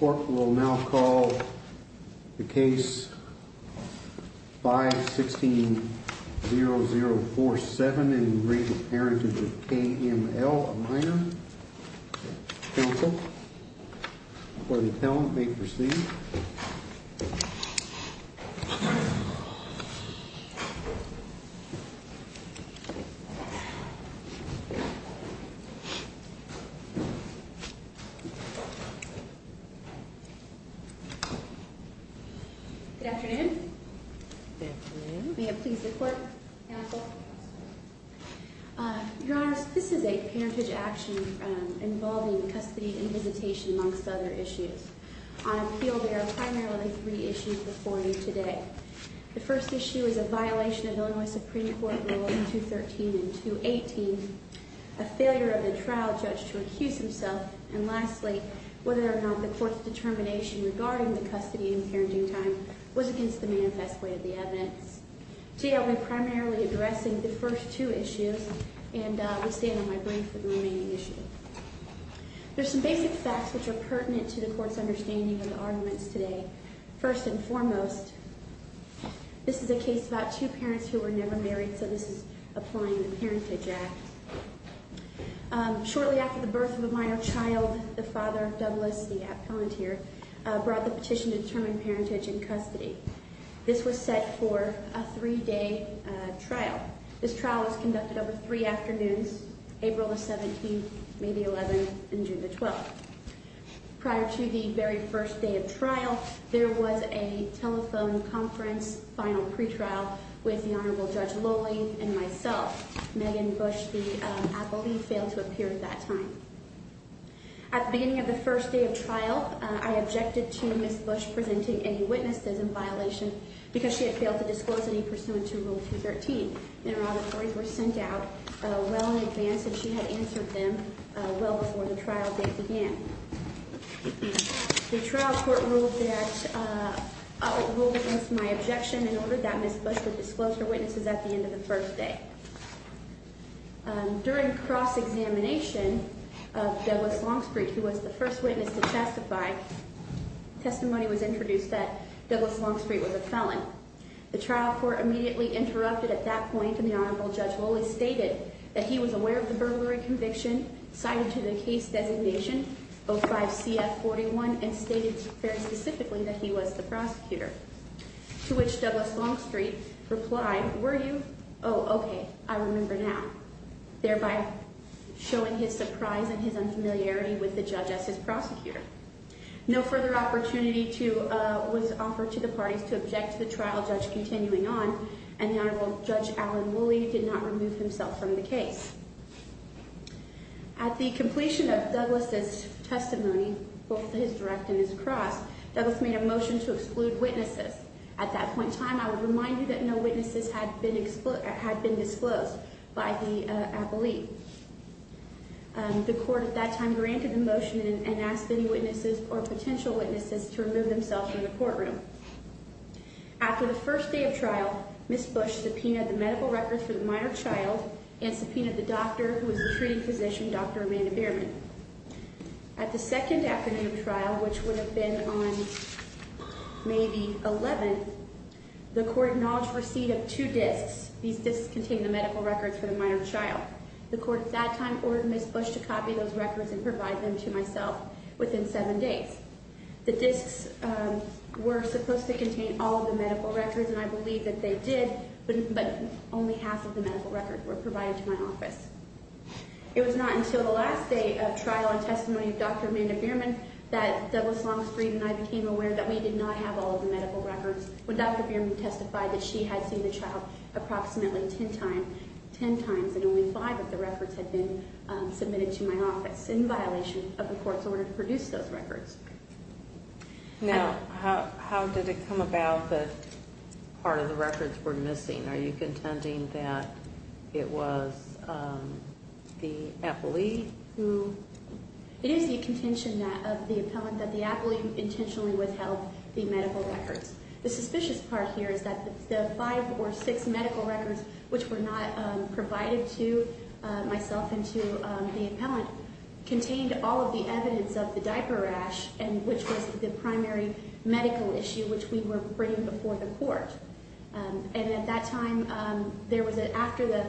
Court will now call the case 5-16-0047 and read the Parentage of K.M.L., a minor. Counsel for the appellant may proceed. Good afternoon. May it please the Court, Counsel. Your Honor, this is a parentage action involving custody and visitation, amongst other issues. On appeal, there are primarily three issues before you today. The first issue is a violation of Illinois Supreme Court Rules 213 and 218, a failure of the trial judge to accuse himself, and lastly, whether or not the Court's determination regarding the custody and parenting time was against the manifest way of the evidence. Today I'll be primarily addressing the first two issues, and will stand on my brief for the remaining issues. There are some basic facts which are pertinent to the Court's understanding of the arguments today. First and foremost, this is a case about two parents who were never married, so this is applying the Parentage Act. Shortly after the birth of a minor child, the father, Douglas, the appellant here, brought the petition to determine parentage and custody. This was set for a three-day trial. This trial was conducted over three afternoons, April the 17th, May the 11th, and June the 12th. Prior to the very first day of trial, there was a telephone conference, final pretrial, with the Honorable Judge Lowley and myself, Megan Bush, the appellee, failed to appear at that time. At the beginning of the first day of trial, I objected to Ms. Bush presenting any witnesses in violation, because she had failed to disclose any pursuant to Rule 213. The interrogatories were sent out well in advance, and she had answered them well before the trial date began. The trial court ruled against my objection and ordered that Ms. Bush would disclose her witnesses at the end of the first day. During cross-examination of Douglas Longstreet, who was the first witness to testify, testimony was introduced that Douglas Longstreet was a felon. The trial court immediately interrupted at that point, and the Honorable Judge Lowley stated that he was aware of the burglary conviction, cited to the case designation 05-CF-41, and stated very specifically that he was the prosecutor, to which Douglas Longstreet replied, were you? Oh, okay, I remember now, thereby showing his surprise and his unfamiliarity with the judge as his prosecutor. No further opportunity was offered to the parties to object to the trial judge continuing on, and the Honorable Judge Alan Lowley did not remove himself from the case. At the completion of Douglas's testimony, both his direct and his cross, Douglas made a motion to exclude witnesses. At that point in time, I would remind you that no witnesses had been disclosed by the appellee. The court at that time granted the motion and asked any witnesses or potential witnesses to remove themselves from the courtroom. After the first day of trial, Ms. Bush subpoenaed the medical records for the minor child and subpoenaed the doctor who was the treating physician, Dr. Amanda Behrman. At the second afternoon of trial, which would have been on May the 11th, the court acknowledged receipt of two disks. These disks contained the medical records for the minor child. The court at that time ordered Ms. Bush to copy those records and provide them to myself within seven days. The disks were supposed to contain all of the medical records, and I believe that they did, but only half of the medical records were provided to my office. It was not until the last day of trial and testimony of Dr. Amanda Behrman that Douglas Longstreet and I became aware that we did not have all of the medical records. When Dr. Behrman testified that she had seen the child approximately ten times, and only five of the records had been submitted to my office in violation of the court's order to produce those records. Now, how did it come about that part of the records were missing? Are you contending that it was the appellee? It is the contention of the appellant that the appellee intentionally withheld the medical records. The suspicious part here is that the five or six medical records which were not provided to myself and to the appellant contained all of the evidence of the diaper rash, which was the primary medical issue which we were bringing before the court. At that time, after the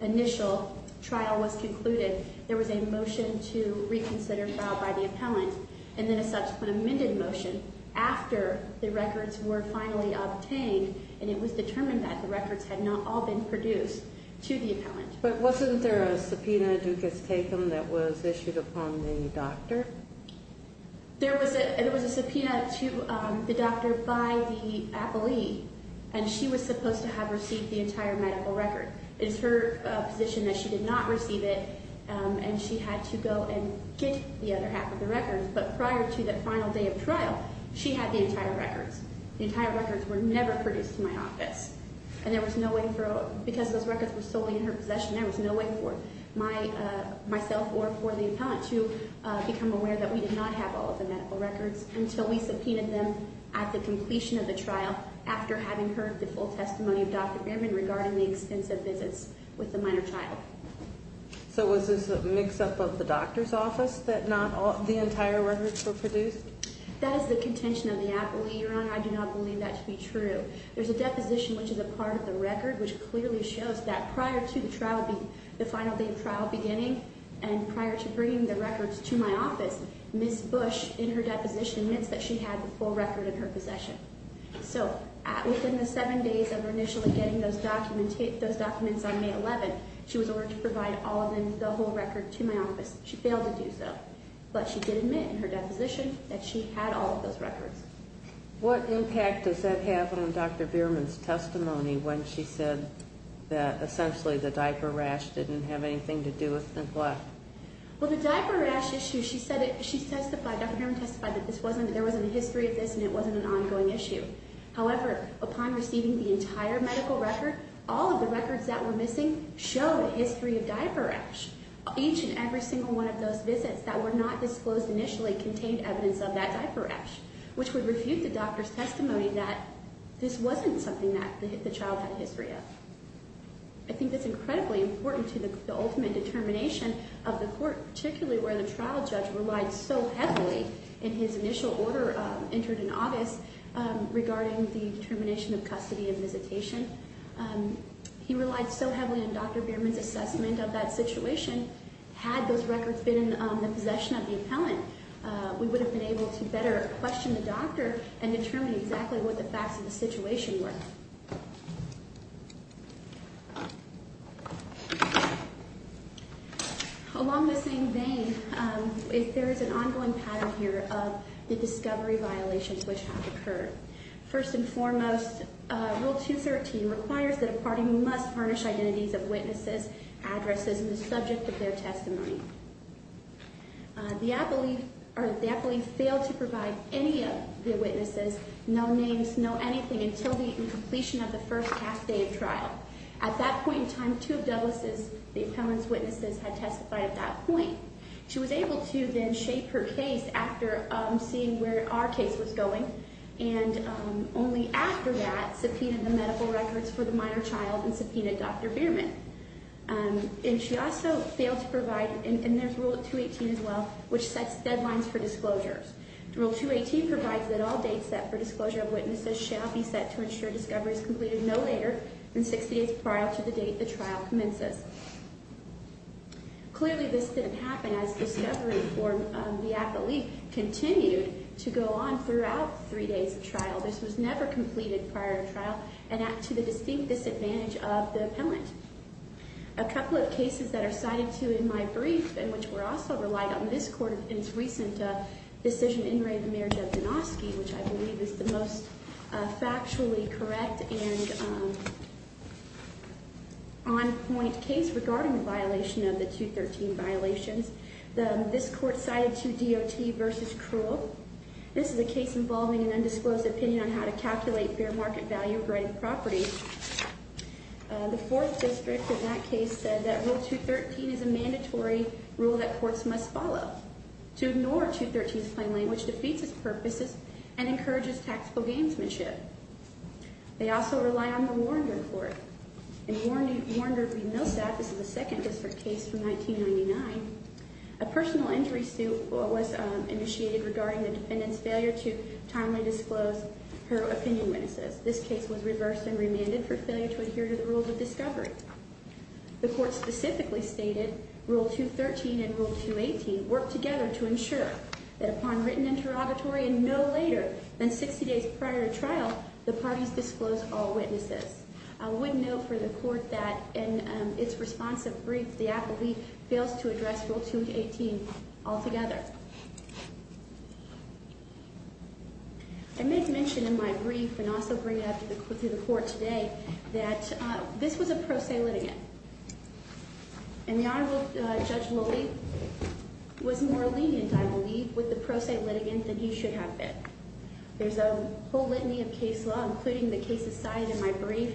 initial trial was concluded, there was a motion to reconsider trial by the appellant, and then a subsequent amended motion after the records were finally obtained and it was determined that the records had not all been produced to the appellant. But wasn't there a subpoena du cas tecum that was issued upon the doctor? There was a subpoena to the doctor by the appellee, and she was supposed to have received the entire medical record. It is her position that she did not receive it, and she had to go and get the other half of the records. But prior to that final day of trial, she had the entire records. The entire records were never produced to my office. And there was no way for, because those records were solely in her possession, there was no way for myself or for the appellant to become aware that we did not have all of the medical records until we subpoenaed them at the completion of the trial after having heard the full testimony of Dr. Bierman regarding the extensive visits with the minor child. So was this a mix-up of the doctor's office that the entire records were produced? That is the contention of the appellee, Your Honor. I do not believe that to be true. There's a deposition which is a part of the record which clearly shows that prior to the final day of trial beginning, and prior to bringing the records to my office, Ms. Bush in her deposition admits that she had the full record in her possession. So within the seven days of initially getting those documents on May 11, she was ordered to provide all of them, the whole record, to my office. She failed to do so, but she did admit in her deposition that she had all of those records. What impact does that have on Dr. Bierman's testimony when she said that essentially the diaper rash didn't have anything to do with what? Well, the diaper rash issue, she testified, Dr. Bierman testified that there wasn't a history of this and it wasn't an ongoing issue. However, upon receiving the entire medical record, all of the records that were missing show a history of diaper rash. Each and every single one of those visits that were not disclosed initially contained evidence of that diaper rash, which would refute the doctor's testimony that this wasn't something that the child had a history of. I think that's incredibly important to the ultimate determination of the court, particularly where the trial judge relied so heavily in his initial order entered in August regarding the termination of custody and visitation. He relied so heavily on Dr. Bierman's assessment of that situation. Had those records been in the possession of the appellant, we would have been able to better question the doctor and determine exactly what the facts of the situation were. Along the same vein, there is an ongoing pattern here of the discovery violations which have occurred. First and foremost, Rule 213 requires that a party must varnish identities of witnesses, addresses, and the subject of their testimony. The appellee failed to provide any of the witnesses no names, no anything, until the completion of the first half day of trial. At that point in time, two of Douglas's, the appellant's witnesses, had testified at that point. She was able to then shape her case after seeing where our case was going, and only after that subpoenaed the medical records for the minor child and subpoenaed Dr. Bierman. And she also failed to provide, and there's Rule 218 as well, which sets deadlines for disclosures. Rule 218 provides that all dates set for disclosure of witnesses shall be set to ensure discovery is completed no later than 60 days prior to the date the trial commences. Clearly this didn't happen as discovery for the appellee continued to go on throughout three days of trial. This was never completed prior to trial and to the distinct disadvantage of the appellant. A couple of cases that are cited to in my brief, and which were also relied on in this court in its recent decision in re the marriage of Donosky, which I believe is the most factually correct and on-point case regarding the violation of the 213 violations. This court cited 2DOT v. Krull. This is a case involving an undisclosed opinion on how to calculate fair market value-grade property. The fourth district in that case said that Rule 213 is a mandatory rule that courts must follow. To ignore 213's plain language defeats its purposes and encourages tactical gamesmanship. They also rely on the Warneger Court. In Warneger v. Millsap, this is the second district case from 1999, a personal injury suit was initiated regarding the defendant's failure to timely disclose her opinion witnesses. This case was reversed and remanded for failure to adhere to the rules of discovery. The court specifically stated Rule 213 and Rule 218 work together to ensure that upon written interrogatory and no later than 60 days prior to trial, the parties disclose all witnesses. I would note for the court that in its responsive brief, the appellee fails to address Rule 218 altogether. I make mention in my brief and also bring it up to the court today that this was a pro se litigant. And the Honorable Judge Lully was more lenient, I believe, with the pro se litigant than he should have been. There's a whole litany of case law, including the cases cited in my brief,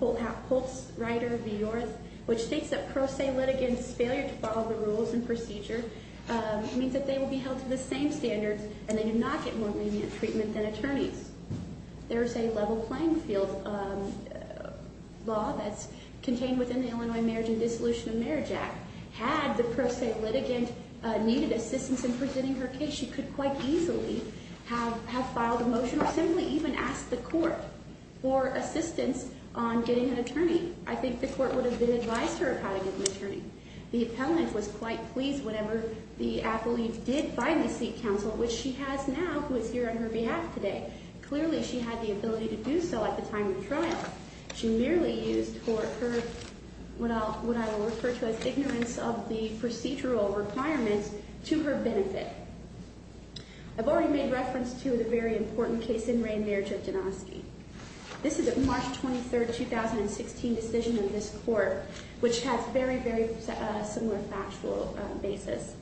Holtz, Reiter, Viorth, which states that pro se litigants' failure to follow the rules and procedure means that they will be held to the same standards and they do not get more lenient treatment than attorneys. There's a level playing field law that's contained within the Illinois Marriage and Dissolution of Marriage Act. Had the pro se litigant needed assistance in presenting her case, she could quite easily have filed a motion or simply even ask the court for assistance on getting an attorney. I think the court would have been advised to her of how to get an attorney. The appellant was quite pleased whenever the appellant did finally seek counsel, which she has now, who is here on her behalf today. Clearly, she had the ability to do so at the time of trial. She merely used her, what I will refer to as ignorance of the procedural requirements, to her benefit. I've already made reference to the very important case in Reign Marriage of Janoski. This is a March 23, 2016 decision of this court, which has very, very similar factual basis.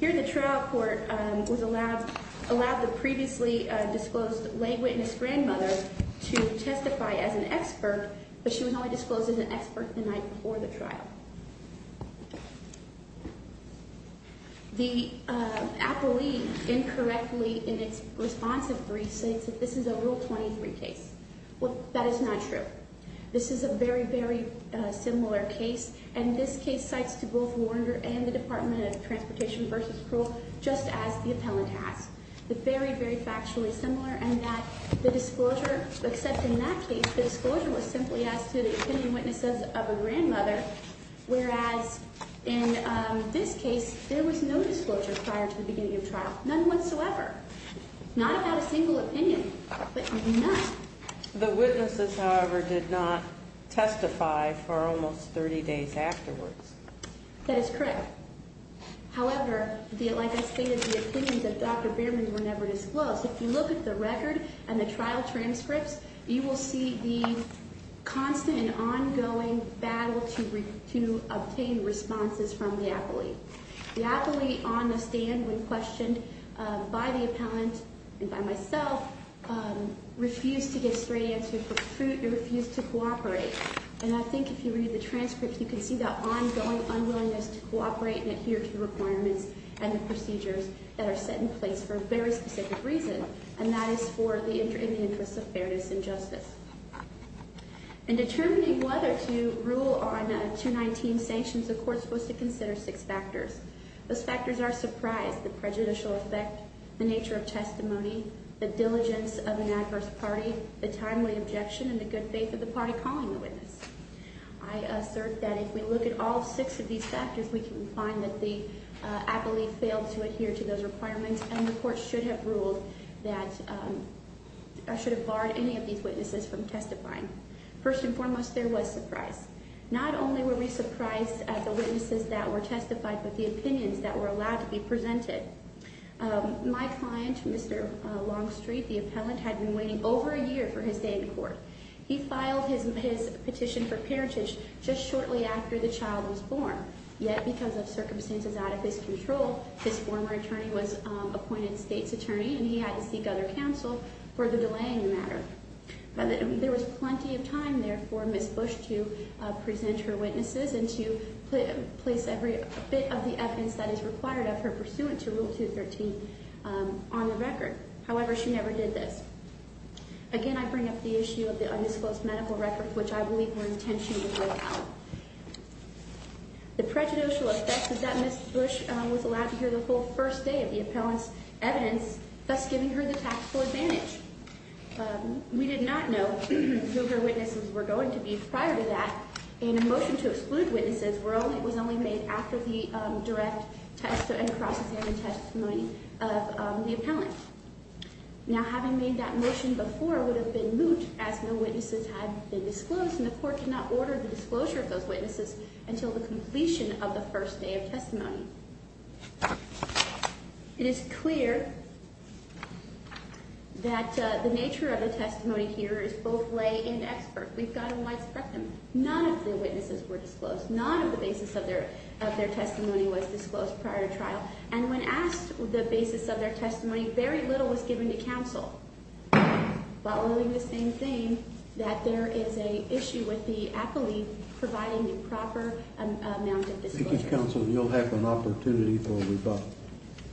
Here, the trial court allowed the previously disclosed lay witness grandmother to testify as an expert, but she was only disclosed as an expert the night before the trial. The appellee, incorrectly in its responsive brief, states that this is a Rule 23 case. Well, that is not true. This is a very, very similar case, and this case cites to both Warrenger and the Department of Transportation v. Crow just as the appellant has. It's very, very factually similar in that the disclosure, except in that case, the disclosure was simply as to the attending witnesses of a grandmother, whereas in this case, there was no disclosure prior to the beginning of trial. None whatsoever. Not about a single opinion, but none. The witnesses, however, did not testify for almost 30 days afterwards. That is correct. However, like I stated, the opinions of Dr. Bierman were never disclosed. If you look at the record and the trial transcripts, you will see the constant and ongoing battle to obtain responses from the appellee. The appellee, on the stand, when questioned by the appellant and by myself, refused to give straight answers, refused to cooperate. And I think if you read the transcripts, you can see that ongoing unwillingness to cooperate and adhere to the requirements and the procedures that are set in place for a very specific reason, and that is for the interests of fairness and justice. In determining whether to rule on 219 sanctions, the court was to consider six factors. Those factors are surprise, the prejudicial effect, the nature of testimony, the diligence of an adverse party, the timely objection, and the good faith of the party calling the witness. I assert that if we look at all six of these factors, we can find that the appellee failed to adhere to those requirements, and the court should have barred any of these witnesses from testifying. First and foremost, there was surprise. Not only were we surprised at the witnesses that were testified, but the opinions that were allowed to be presented. My client, Mr. Longstreet, the appellant, had been waiting over a year for his day in court. He filed his petition for parentage just shortly after the child was born. Yet, because of circumstances out of his control, his former attorney was appointed state's attorney, and he had to seek other counsel for the delaying matter. There was plenty of time there for Ms. Bush to present her witnesses and to place every bit of the evidence that is required of her pursuant to Rule 213 on the record. However, she never did this. Again, I bring up the issue of the undisclosed medical records, which I believe were intentionally brought out. The prejudicial effect is that Ms. Bush was allowed to hear the whole first day of the appellant's evidence, thus giving her the taxable advantage. We did not know who her witnesses were going to be prior to that, and a motion to exclude witnesses was only made after the direct test and cross-examination testimony of the appellant. Now, having made that motion before would have been moot, as no witnesses had been disclosed, and the Court could not order the disclosure of those witnesses until the completion of the first day of testimony. It is clear that the nature of the testimony here is both lay and expert. We've got a wide spectrum. None of the witnesses were disclosed. None of the basis of their testimony was disclosed prior to trial, and when asked the basis of their testimony, very little was given to counsel, following the same theme, that there is an issue with the appellee providing the proper amount of disclosure. Thank you, counsel. You'll have an opportunity for a rebuttal.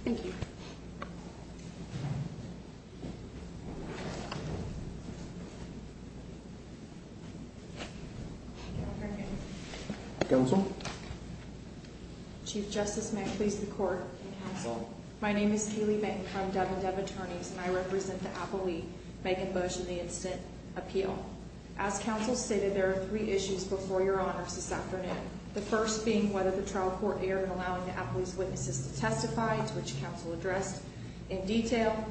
Thank you. Counsel? Chief Justice, may I please the Court? Counsel. My name is Kaylee Benton from Dev & Dev Attorneys, and I represent the appellee, Megan Bush, in the instant appeal. As counsel stated, there are three issues before Your Honors this afternoon. The first being whether the trial court erred in allowing the appellee's witnesses to testify, to which counsel addressed in detail.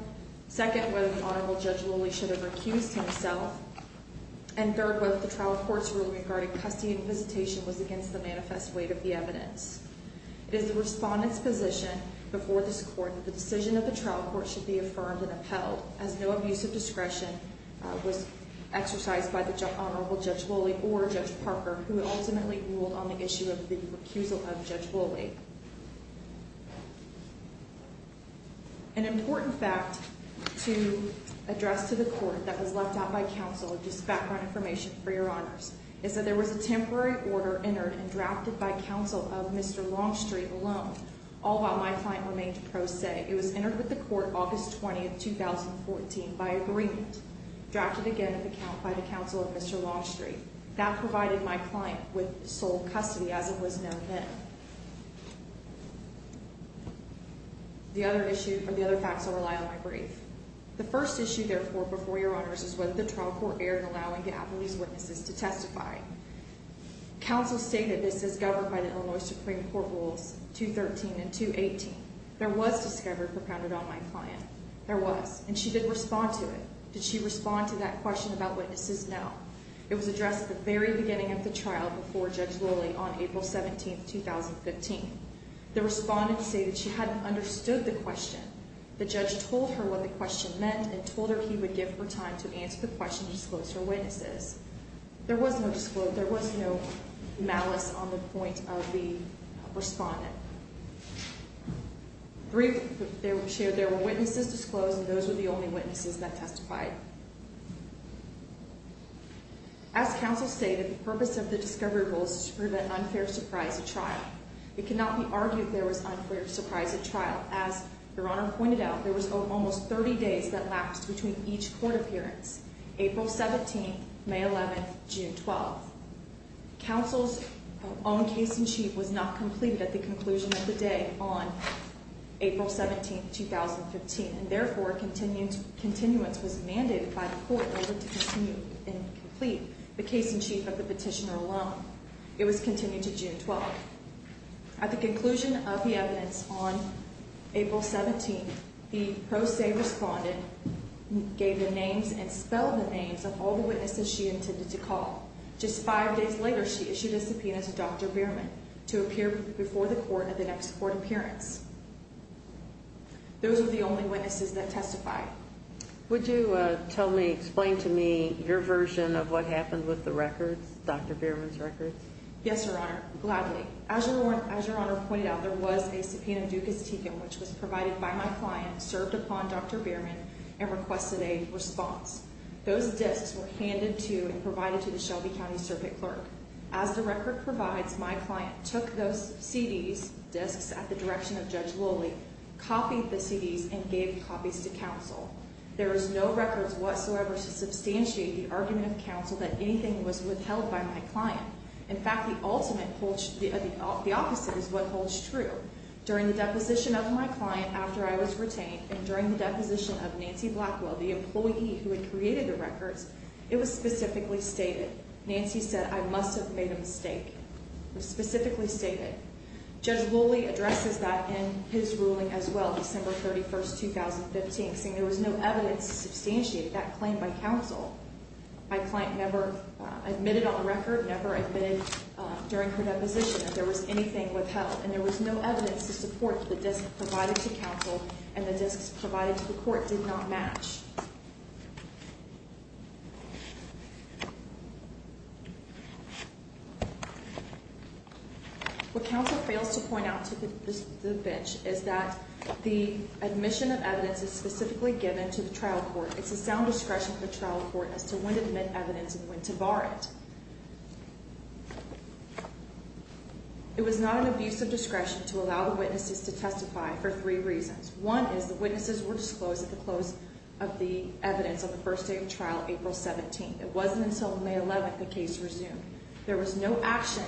Second, whether the Honorable Judge Lilly should have recused himself. And third, whether the trial court's rule regarding custody and visitation was against the manifest weight of the evidence. It is the Respondent's position before this Court that the decision of the trial court should be affirmed and upheld, as no abuse of discretion was exercised by the Honorable Judge Lilly or Judge Parker, who ultimately ruled on the issue of the recusal of Judge Lilly. An important fact to address to the Court that was left out by counsel, just background information for Your Honors, is that there was a temporary order entered and drafted by counsel of Mr. Longstreet alone, all while my client remained pro se. It was entered with the Court August 20, 2014, by agreement, drafted again at the count by the counsel of Mr. Longstreet. That provided my client with sole custody, as it was known then. The other issue, or the other facts, will rely on my brief. The first issue, therefore, before Your Honors, is whether the trial court erred in allowing Gavilee's witnesses to testify. Counsel stated this as governed by the Illinois Supreme Court Rules 213 and 218. There was discovery propounded on my client. There was. And she did respond to it. Did she respond to that question about witnesses? No. It was addressed at the very beginning of the trial, before Judge Lilly, on April 17, 2015. The Respondent stated she hadn't understood the question. The Judge told her what the question meant, and told her he would give her time to answer the question to disclose her witnesses. There was no malice on the point of the Respondent. Briefly, there were witnesses disclosed, and those were the only witnesses that testified. As counsel stated, the purpose of the discovery rule is to prevent unfair surprise at trial. It cannot be argued there was unfair surprise at trial, as Your Honor pointed out, there was almost 30 days that lapsed between each court appearance. April 17, May 11, June 12. Counsel's own case-in-chief was not completed at the conclusion of the day on April 17, 2015. And therefore, continuance was mandated by the court in order to continue and complete the case-in-chief of the petitioner alone. It was continued to June 12. At the conclusion of the evidence on April 17, the pro se Respondent gave the names and spelled the names of all the witnesses she intended to call. Just five days later, she issued a subpoena to Dr. Bierman to appear before the court at the next court appearance. Those were the only witnesses that testified. Would you tell me, explain to me your version of what happened with the records, Dr. Bierman's records? Yes, Your Honor, gladly. As Your Honor pointed out, there was a subpoena ducas tecum, which was provided by my client, served upon Dr. Bierman, and requested a response. Those discs were handed to and provided to the Shelby County Circuit Clerk. As the record provides, my client took those CDs, discs at the direction of Judge Lowley, copied the CDs, and gave copies to counsel. There is no records whatsoever to substantiate the argument of counsel that anything was withheld by my client. In fact, the opposite is what holds true. During the deposition of my client after I was retained, and during the deposition of Nancy Blackwell, the employee who had created the records, it was specifically stated. Nancy said, I must have made a mistake. It was specifically stated. Judge Lowley addresses that in his ruling as well, December 31, 2015, saying there was no evidence to substantiate that claim by counsel. My client never admitted on the record, never admitted during her deposition that there was anything withheld. And there was no evidence to support the discs provided to counsel, and the discs provided to the court did not match. What counsel fails to point out to the bench is that the admission of evidence is specifically given to the trial court. It's a sound discretion for the trial court as to when to admit evidence and when to bar it. It was not an abuse of discretion to allow the witnesses to testify for three reasons. One is the witnesses were disclosed at the close of the evidence on the first day of trial, April 17. It wasn't until May 11 the case resumed. There was no action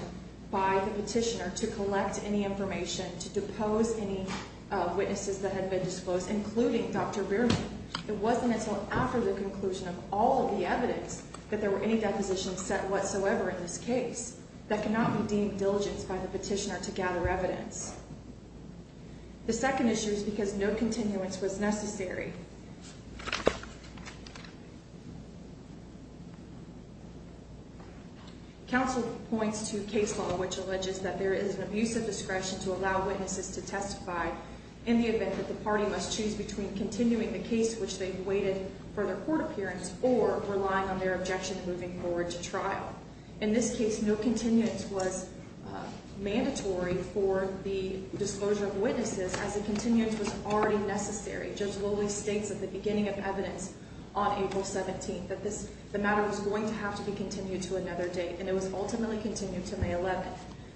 by the petitioner to collect any information, to depose any witnesses that had been disclosed, including Dr. Rearman. It wasn't until after the conclusion of all of the evidence that there were any depositions set whatsoever in this case. That cannot be deemed diligence by the petitioner to gather evidence. The second issue is because no continuance was necessary. Counsel points to case law which alleges that there is an abuse of discretion to allow witnesses to testify in the event that the party must choose between continuing the case which they've waited for their court appearance or relying on their objection moving forward to trial. In this case, no continuance was mandatory for the disclosure of witnesses as the continuance was already necessary. Judge Lowley states at the beginning of evidence on April 17 that the matter was going to have to be continued to another date, and it was ultimately continued to May 11.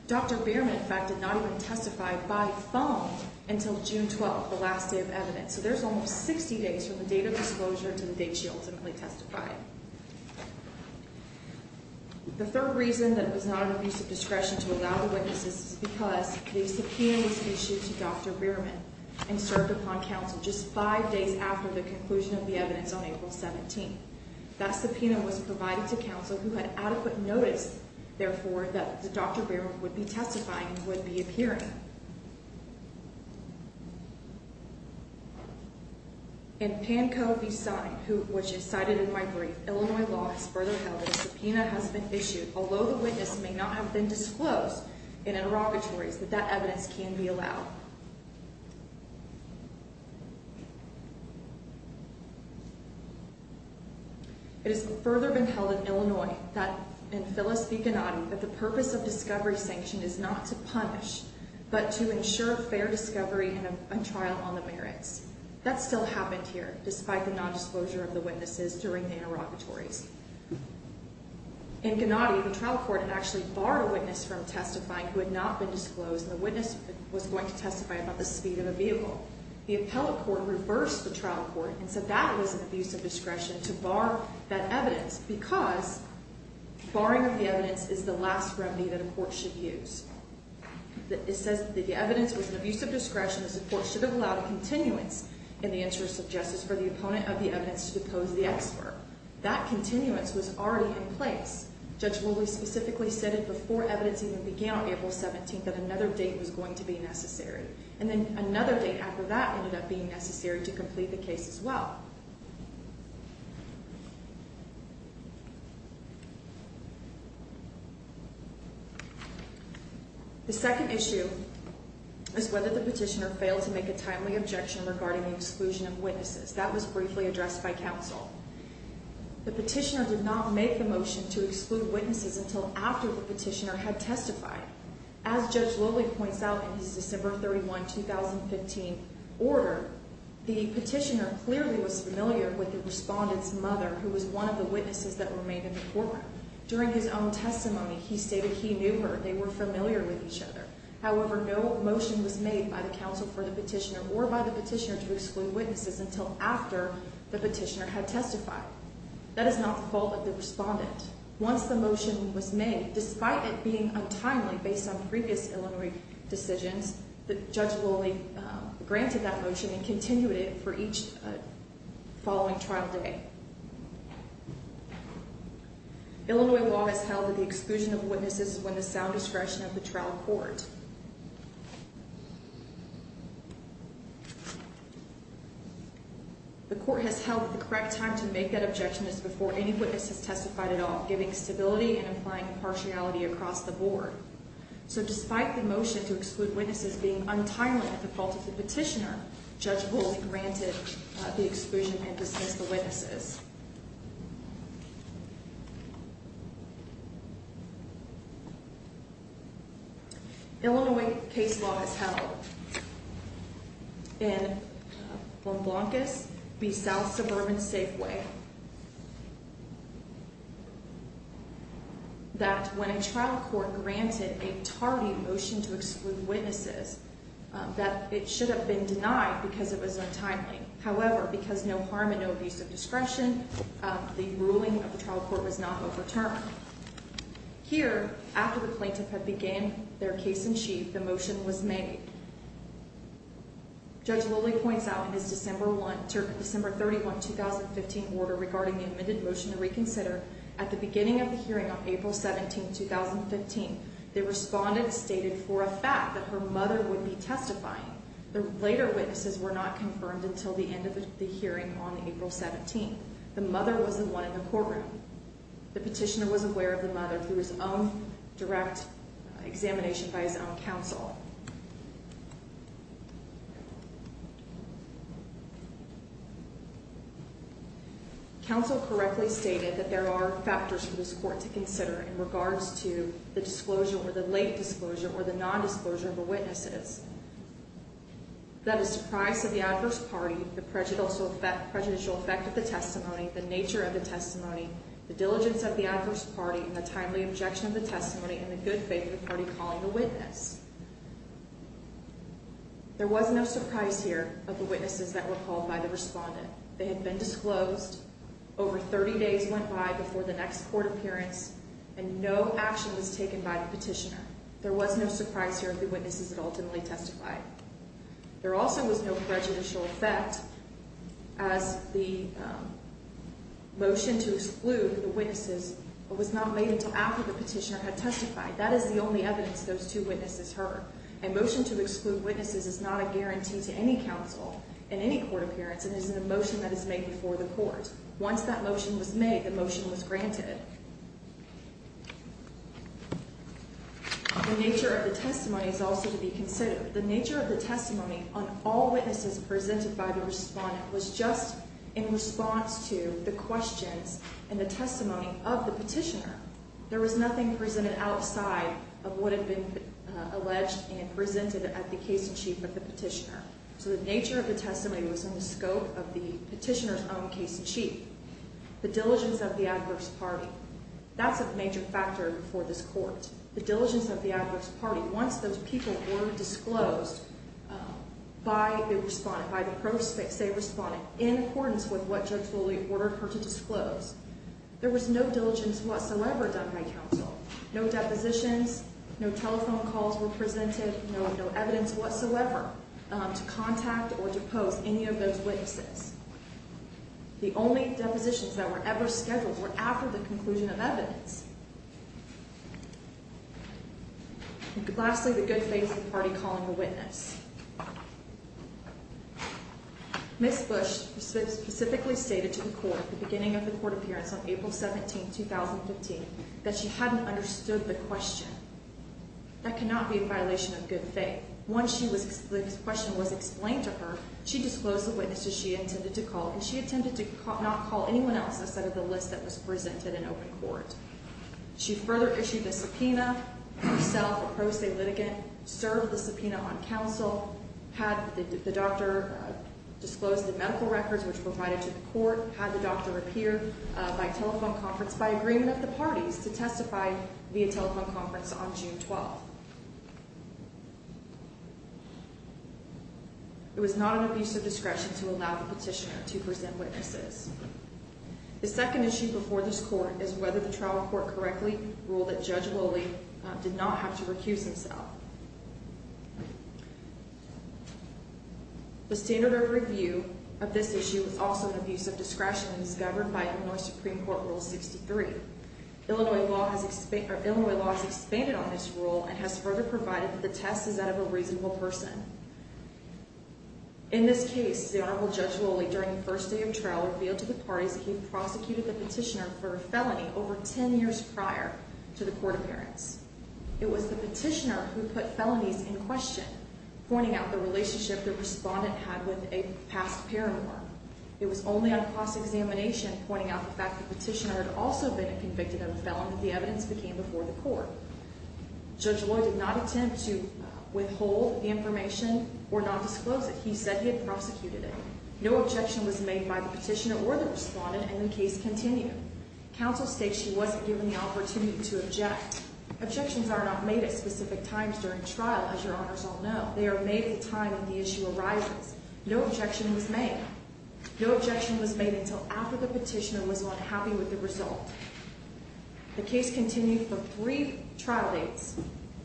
Dr. Rearman, in fact, did not even testify by phone until June 12, the last day of evidence. So there's almost 60 days from the date of disclosure to the date she ultimately testified. The third reason that it was not an abuse of discretion to allow the witnesses is because the subpoena was issued to Dr. Rearman and served upon counsel just five days after the conclusion of the evidence on April 17. That subpoena was provided to counsel who had adequate notice, therefore, that Dr. Rearman would be testifying and would be appearing. In Pankow v. Sine, which is cited in my brief, Illinois law has further held that a subpoena has been issued, although the witness may not have been disclosed in interrogatories, that that evidence can be allowed. It has further been held in Illinois, in Phyllis v. Gennady, that the purpose of discovery sanction is not to punish, but to ensure fair discovery and a trial on the merits. That still happened here, despite the nondisclosure of the witnesses during the interrogatories. In Gennady, the trial court had actually barred a witness from testifying who had not been disclosed, and the witness was going to testify about the speed of a vehicle. The appellate court reversed the trial court and said that was an abuse of discretion to bar that evidence because barring of the evidence is the last remedy that a court should use. It says that the evidence was an abuse of discretion as the court should have allowed a continuance in the interest of justice for the opponent of the evidence to depose the expert. That continuance was already in place. Judge Lowley specifically said it before evidence even began on April 17th that another date was going to be necessary. And then another date after that ended up being necessary to complete the case as well. The second issue is whether the petitioner failed to make a timely objection regarding the exclusion of witnesses. That was briefly addressed by counsel. The petitioner did not make the motion to exclude witnesses until after the petitioner had testified. As Judge Lowley points out in his December 31, 2015 order, the petitioner clearly was familiar with the respondent's mother, who was one of the witnesses that remained in the courtroom. During his own testimony, he stated he knew her. They were familiar with each other. However, no motion was made by the counsel for the petitioner or by the petitioner to exclude witnesses until after the petitioner had testified. That is not the fault of the respondent. Once the motion was made, despite it being untimely based on previous Illinois decisions, Judge Lowley granted that motion and continued it for each following trial day. Illinois law has held that the exclusion of witnesses is within the sound discretion of the trial court. The court has held that the correct time to make that objection is before any witness has testified at all, giving stability and applying impartiality across the board. So despite the motion to exclude witnesses being untimely at the fault of the petitioner, Judge Lowley granted the exclusion and dismissed the witnesses. Illinois case law has held in Blancas v. South Suburban Safeway that when a trial court granted a tardy motion to exclude witnesses, that it should have been denied because it was untimely. However, because no harm and no abuse of discretion, the ruling of the trial court was not overturned. Here, after the plaintiff had began their case in chief, the motion was made. Judge Lowley points out in his December 31, 2015 order regarding the amended motion to reconsider, at the beginning of the hearing on April 17, 2015, the respondent stated for a fact that her mother would be testifying. The later witnesses were not confirmed until the end of the hearing on April 17. The mother was the one in the courtroom. The petitioner was aware of the mother through his own direct examination by his own counsel. Counsel correctly stated that there are factors for this court to consider in regards to the disclosure or the late disclosure or the nondisclosure of the witnesses. That the surprise of the adverse party, the prejudicial effect of the testimony, the nature of the testimony, the diligence of the adverse party, the timely objection of the testimony, and the good faith of the party calling the witness. There was no surprise here of the witnesses that were called by the respondent. They had been disclosed, over 30 days went by before the next court appearance, and no action was taken by the petitioner. There was no surprise here of the witnesses that ultimately testified. There also was no prejudicial effect as the motion to exclude the witnesses was not made until after the petitioner had testified. That is the only evidence those two witnesses heard. A motion to exclude witnesses is not a guarantee to any counsel in any court appearance. It is a motion that is made before the court. Once that motion was made, the motion was granted. The nature of the testimony is also to be considered. The nature of the testimony on all witnesses presented by the respondent was just in response to the questions and the testimony of the petitioner. There was nothing presented outside of what had been alleged and presented at the case in chief of the petitioner. So the nature of the testimony was in the scope of the petitioner's own case in chief. The diligence of the adverse party, that's a major factor for this court. The diligence of the adverse party, once those people were disclosed by the respondent, by the prospects, they responded in accordance with what Judge Foley ordered her to disclose. There was no diligence whatsoever done by counsel. No depositions, no telephone calls were presented, no evidence whatsoever to contact or depose any of those witnesses. The only depositions that were ever scheduled were after the conclusion of evidence. Lastly, the good faith of the party calling the witness. Ms. Bush specifically stated to the court at the beginning of the court appearance on April 17, 2015, that she hadn't understood the question. That cannot be a violation of good faith. Once the question was explained to her, she disclosed the witnesses she intended to call, and she intended to not call anyone else instead of the list that was presented in open court. She further issued a subpoena, herself a pro se litigant, served the subpoena on counsel, had the doctor disclose the medical records which were provided to the court, had the doctor appear by telephone conference by agreement of the parties to testify via telephone conference on June 12. It was not an abuse of discretion to allow the petitioner to present witnesses. The second issue before this court is whether the trial court correctly ruled that Judge Loley did not have to recuse himself. The standard of review of this issue was also an abuse of discretion and was governed by Illinois Supreme Court Rule 63. Illinois law has expanded on this rule and has further provided that the test is that of a reasonable person. In this case, the Honorable Judge Loley, during the first day of trial, revealed to the parties that he had prosecuted the petitioner for a felony over ten years prior to the court appearance. It was the petitioner who put felonies in question, pointing out the relationship the respondent had with a past paramour. It was only on cross-examination pointing out the fact the petitioner had also been a convicted felon that the evidence became before the court. Judge Loley did not attempt to withhold information or not disclose it. He said he had prosecuted it. No objection was made by the petitioner or the respondent, and the case continued. Counsel states she wasn't given the opportunity to object. Objections are not made at specific times during trial, as your honors all know. They are made at the time that the issue arises. No objection was made. No objection was made until after the petitioner was unhappy with the result. The case continued for three trial dates,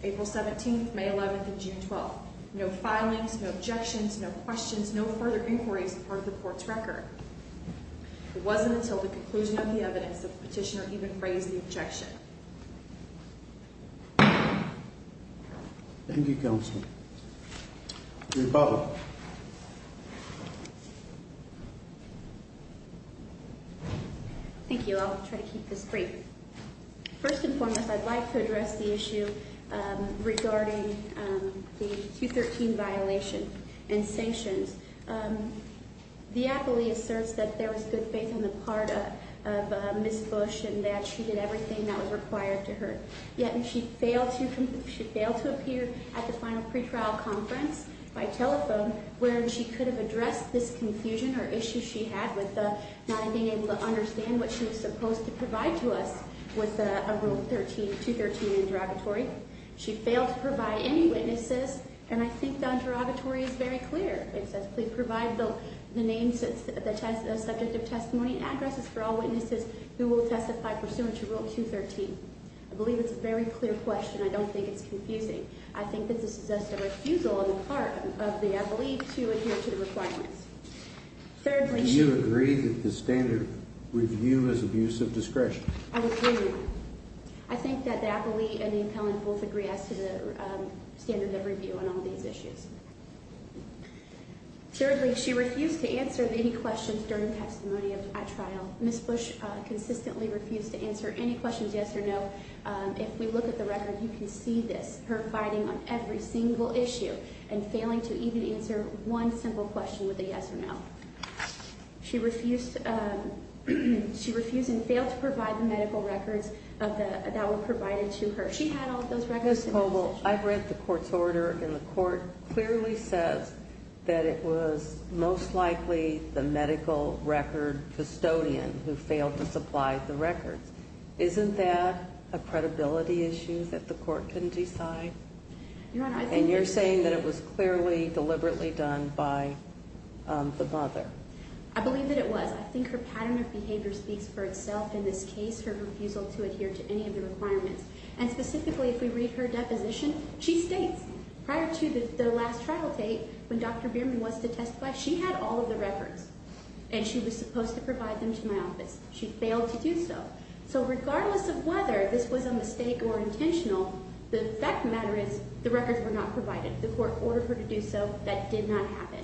April 17th, May 11th, and June 12th. No filings, no objections, no questions, no further inquiries were part of the court's record. It wasn't until the conclusion of the evidence that the petitioner even phrased the objection. Thank you, Counsel. Ms. Butler. Thank you. I'll try to keep this brief. First and foremost, I'd like to address the issue regarding the Q13 violation and sanctions. The appellee asserts that there was good faith on the part of Ms. Bush and that she did everything that was required to her. Yet she failed to appear at the final pretrial conference by telephone where she could have addressed this confusion or issue she had with not being able to understand what she was supposed to provide to us with a Rule 213 interrogatory. She failed to provide any witnesses, and I think the interrogatory is very clear. It says, please provide the names of the subject of testimony and addresses for all witnesses who will testify pursuant to Rule 213. I believe it's a very clear question. I don't think it's confusing. I think that this is just a refusal on the part of the appellee to adhere to the requirements. Do you agree that the standard review is abuse of discretion? I agree. I think that the appellee and the appellant both agree as to the standard of review on all these issues. Thirdly, she refused to answer any questions during the testimony at trial. Ms. Bush consistently refused to answer any questions yes or no. If we look at the record, you can see this, her fighting on every single issue and failing to even answer one simple question with a yes or no. She refused and failed to provide the medical records that were provided to her. She had all of those records. Ms. Coble, I've read the court's order, and the court clearly says that it was most likely the medical record custodian who failed to supply the records. Isn't that a credibility issue that the court can decide? And you're saying that it was clearly deliberately done by the mother. I believe that it was. I think her pattern of behavior speaks for itself in this case, her refusal to adhere to any of the requirements. And specifically, if we read her deposition, she states prior to the last trial date, when Dr. Bierman was to testify, she had all of the records, and she was supposed to provide them to my office. She failed to do so. So regardless of whether this was a mistake or intentional, the fact of the matter is the records were not provided. The court ordered her to do so. That did not happen.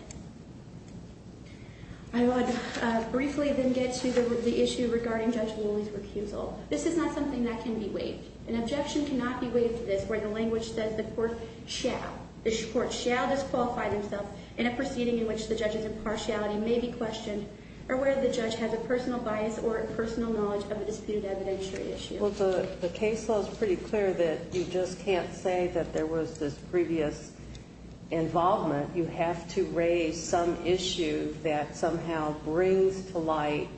I would briefly then get to the issue regarding Judge Woolley's recusal. This is not something that can be waived. An objection cannot be waived to this where the language says the court shall. The court shall disqualify themselves in a proceeding in which the judge's impartiality may be questioned or where the judge has a personal bias or personal knowledge of a disputed evidentiary issue. Well, the case law is pretty clear that you just can't say that there was this previous involvement. You have to raise some issue that somehow brings to light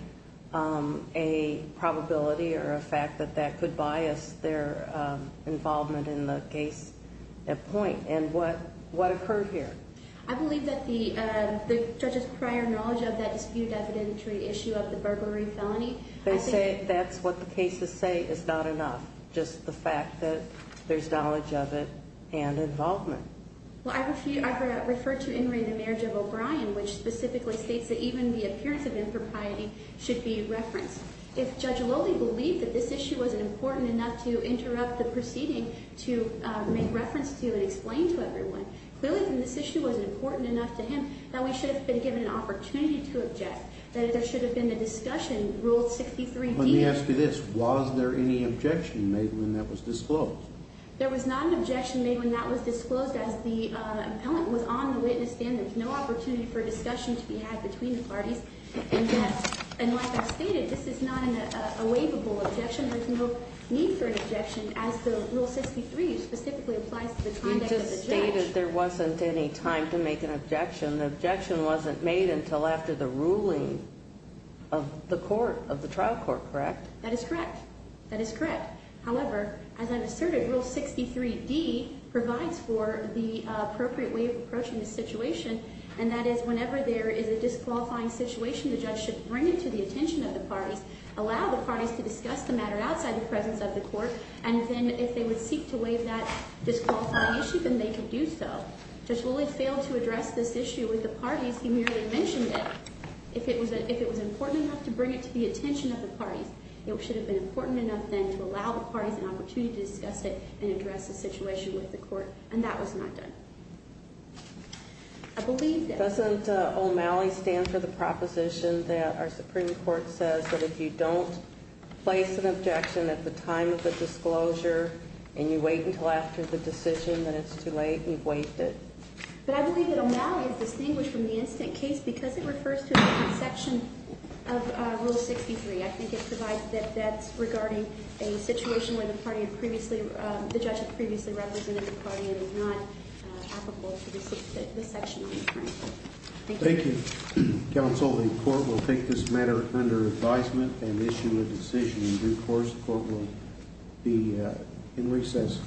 a probability or a fact that that could bias their involvement in the case at point. And what occurred here? I believe that the judge's prior knowledge of that disputed evidentiary issue of the burglary felony. They say that's what the cases say is not enough, just the fact that there's knowledge of it and involvement. Well, I've referred to In re, the marriage of O'Brien, which specifically states that even the appearance of impropriety should be referenced. If Judge Woolley believed that this issue was important enough to interrupt the proceeding to make reference to and explain to everyone, clearly then this issue was important enough to him that we should have been given an opportunity to object, that there should have been a discussion ruled 63-D. Let me ask you this. Was there any objection made when that was disclosed? There was not an objection made when that was disclosed. As the appellant was on the witness stand, there was no opportunity for discussion to be had between the parties. And like I stated, this is not a waivable objection. There's no need for an objection as the Rule 63 specifically applies to the conduct of the judge. You just stated there wasn't any time to make an objection. The objection wasn't made until after the ruling of the trial court, correct? That is correct. That is correct. However, as I've asserted, Rule 63-D provides for the appropriate way of approaching the situation, and that is whenever there is a disqualifying situation, the judge should bring it to the attention of the parties, allow the parties to discuss the matter outside the presence of the court, and then if they would seek to waive that disqualifying issue, then they could do so. Judge Woolley failed to address this issue with the parties. He merely mentioned it. If it was important enough to bring it to the attention of the parties, it should have been important enough then to allow the parties an opportunity to discuss it and address the situation with the court, and that was not done. I believe that. Doesn't O'Malley stand for the proposition that our Supreme Court says that if you don't place an objection at the time of the disclosure and you wait until after the decision that it's too late, you've waived it? But I believe that O'Malley is distinguished from the incident case because it refers to a different section of Rule 63. I think it provides that that's regarding a situation where the judge had previously represented the party and is not applicable to this section of the crime. Thank you. Thank you, counsel. The court will take this matter under advisement and issue a decision. In due course, the court will be in recess.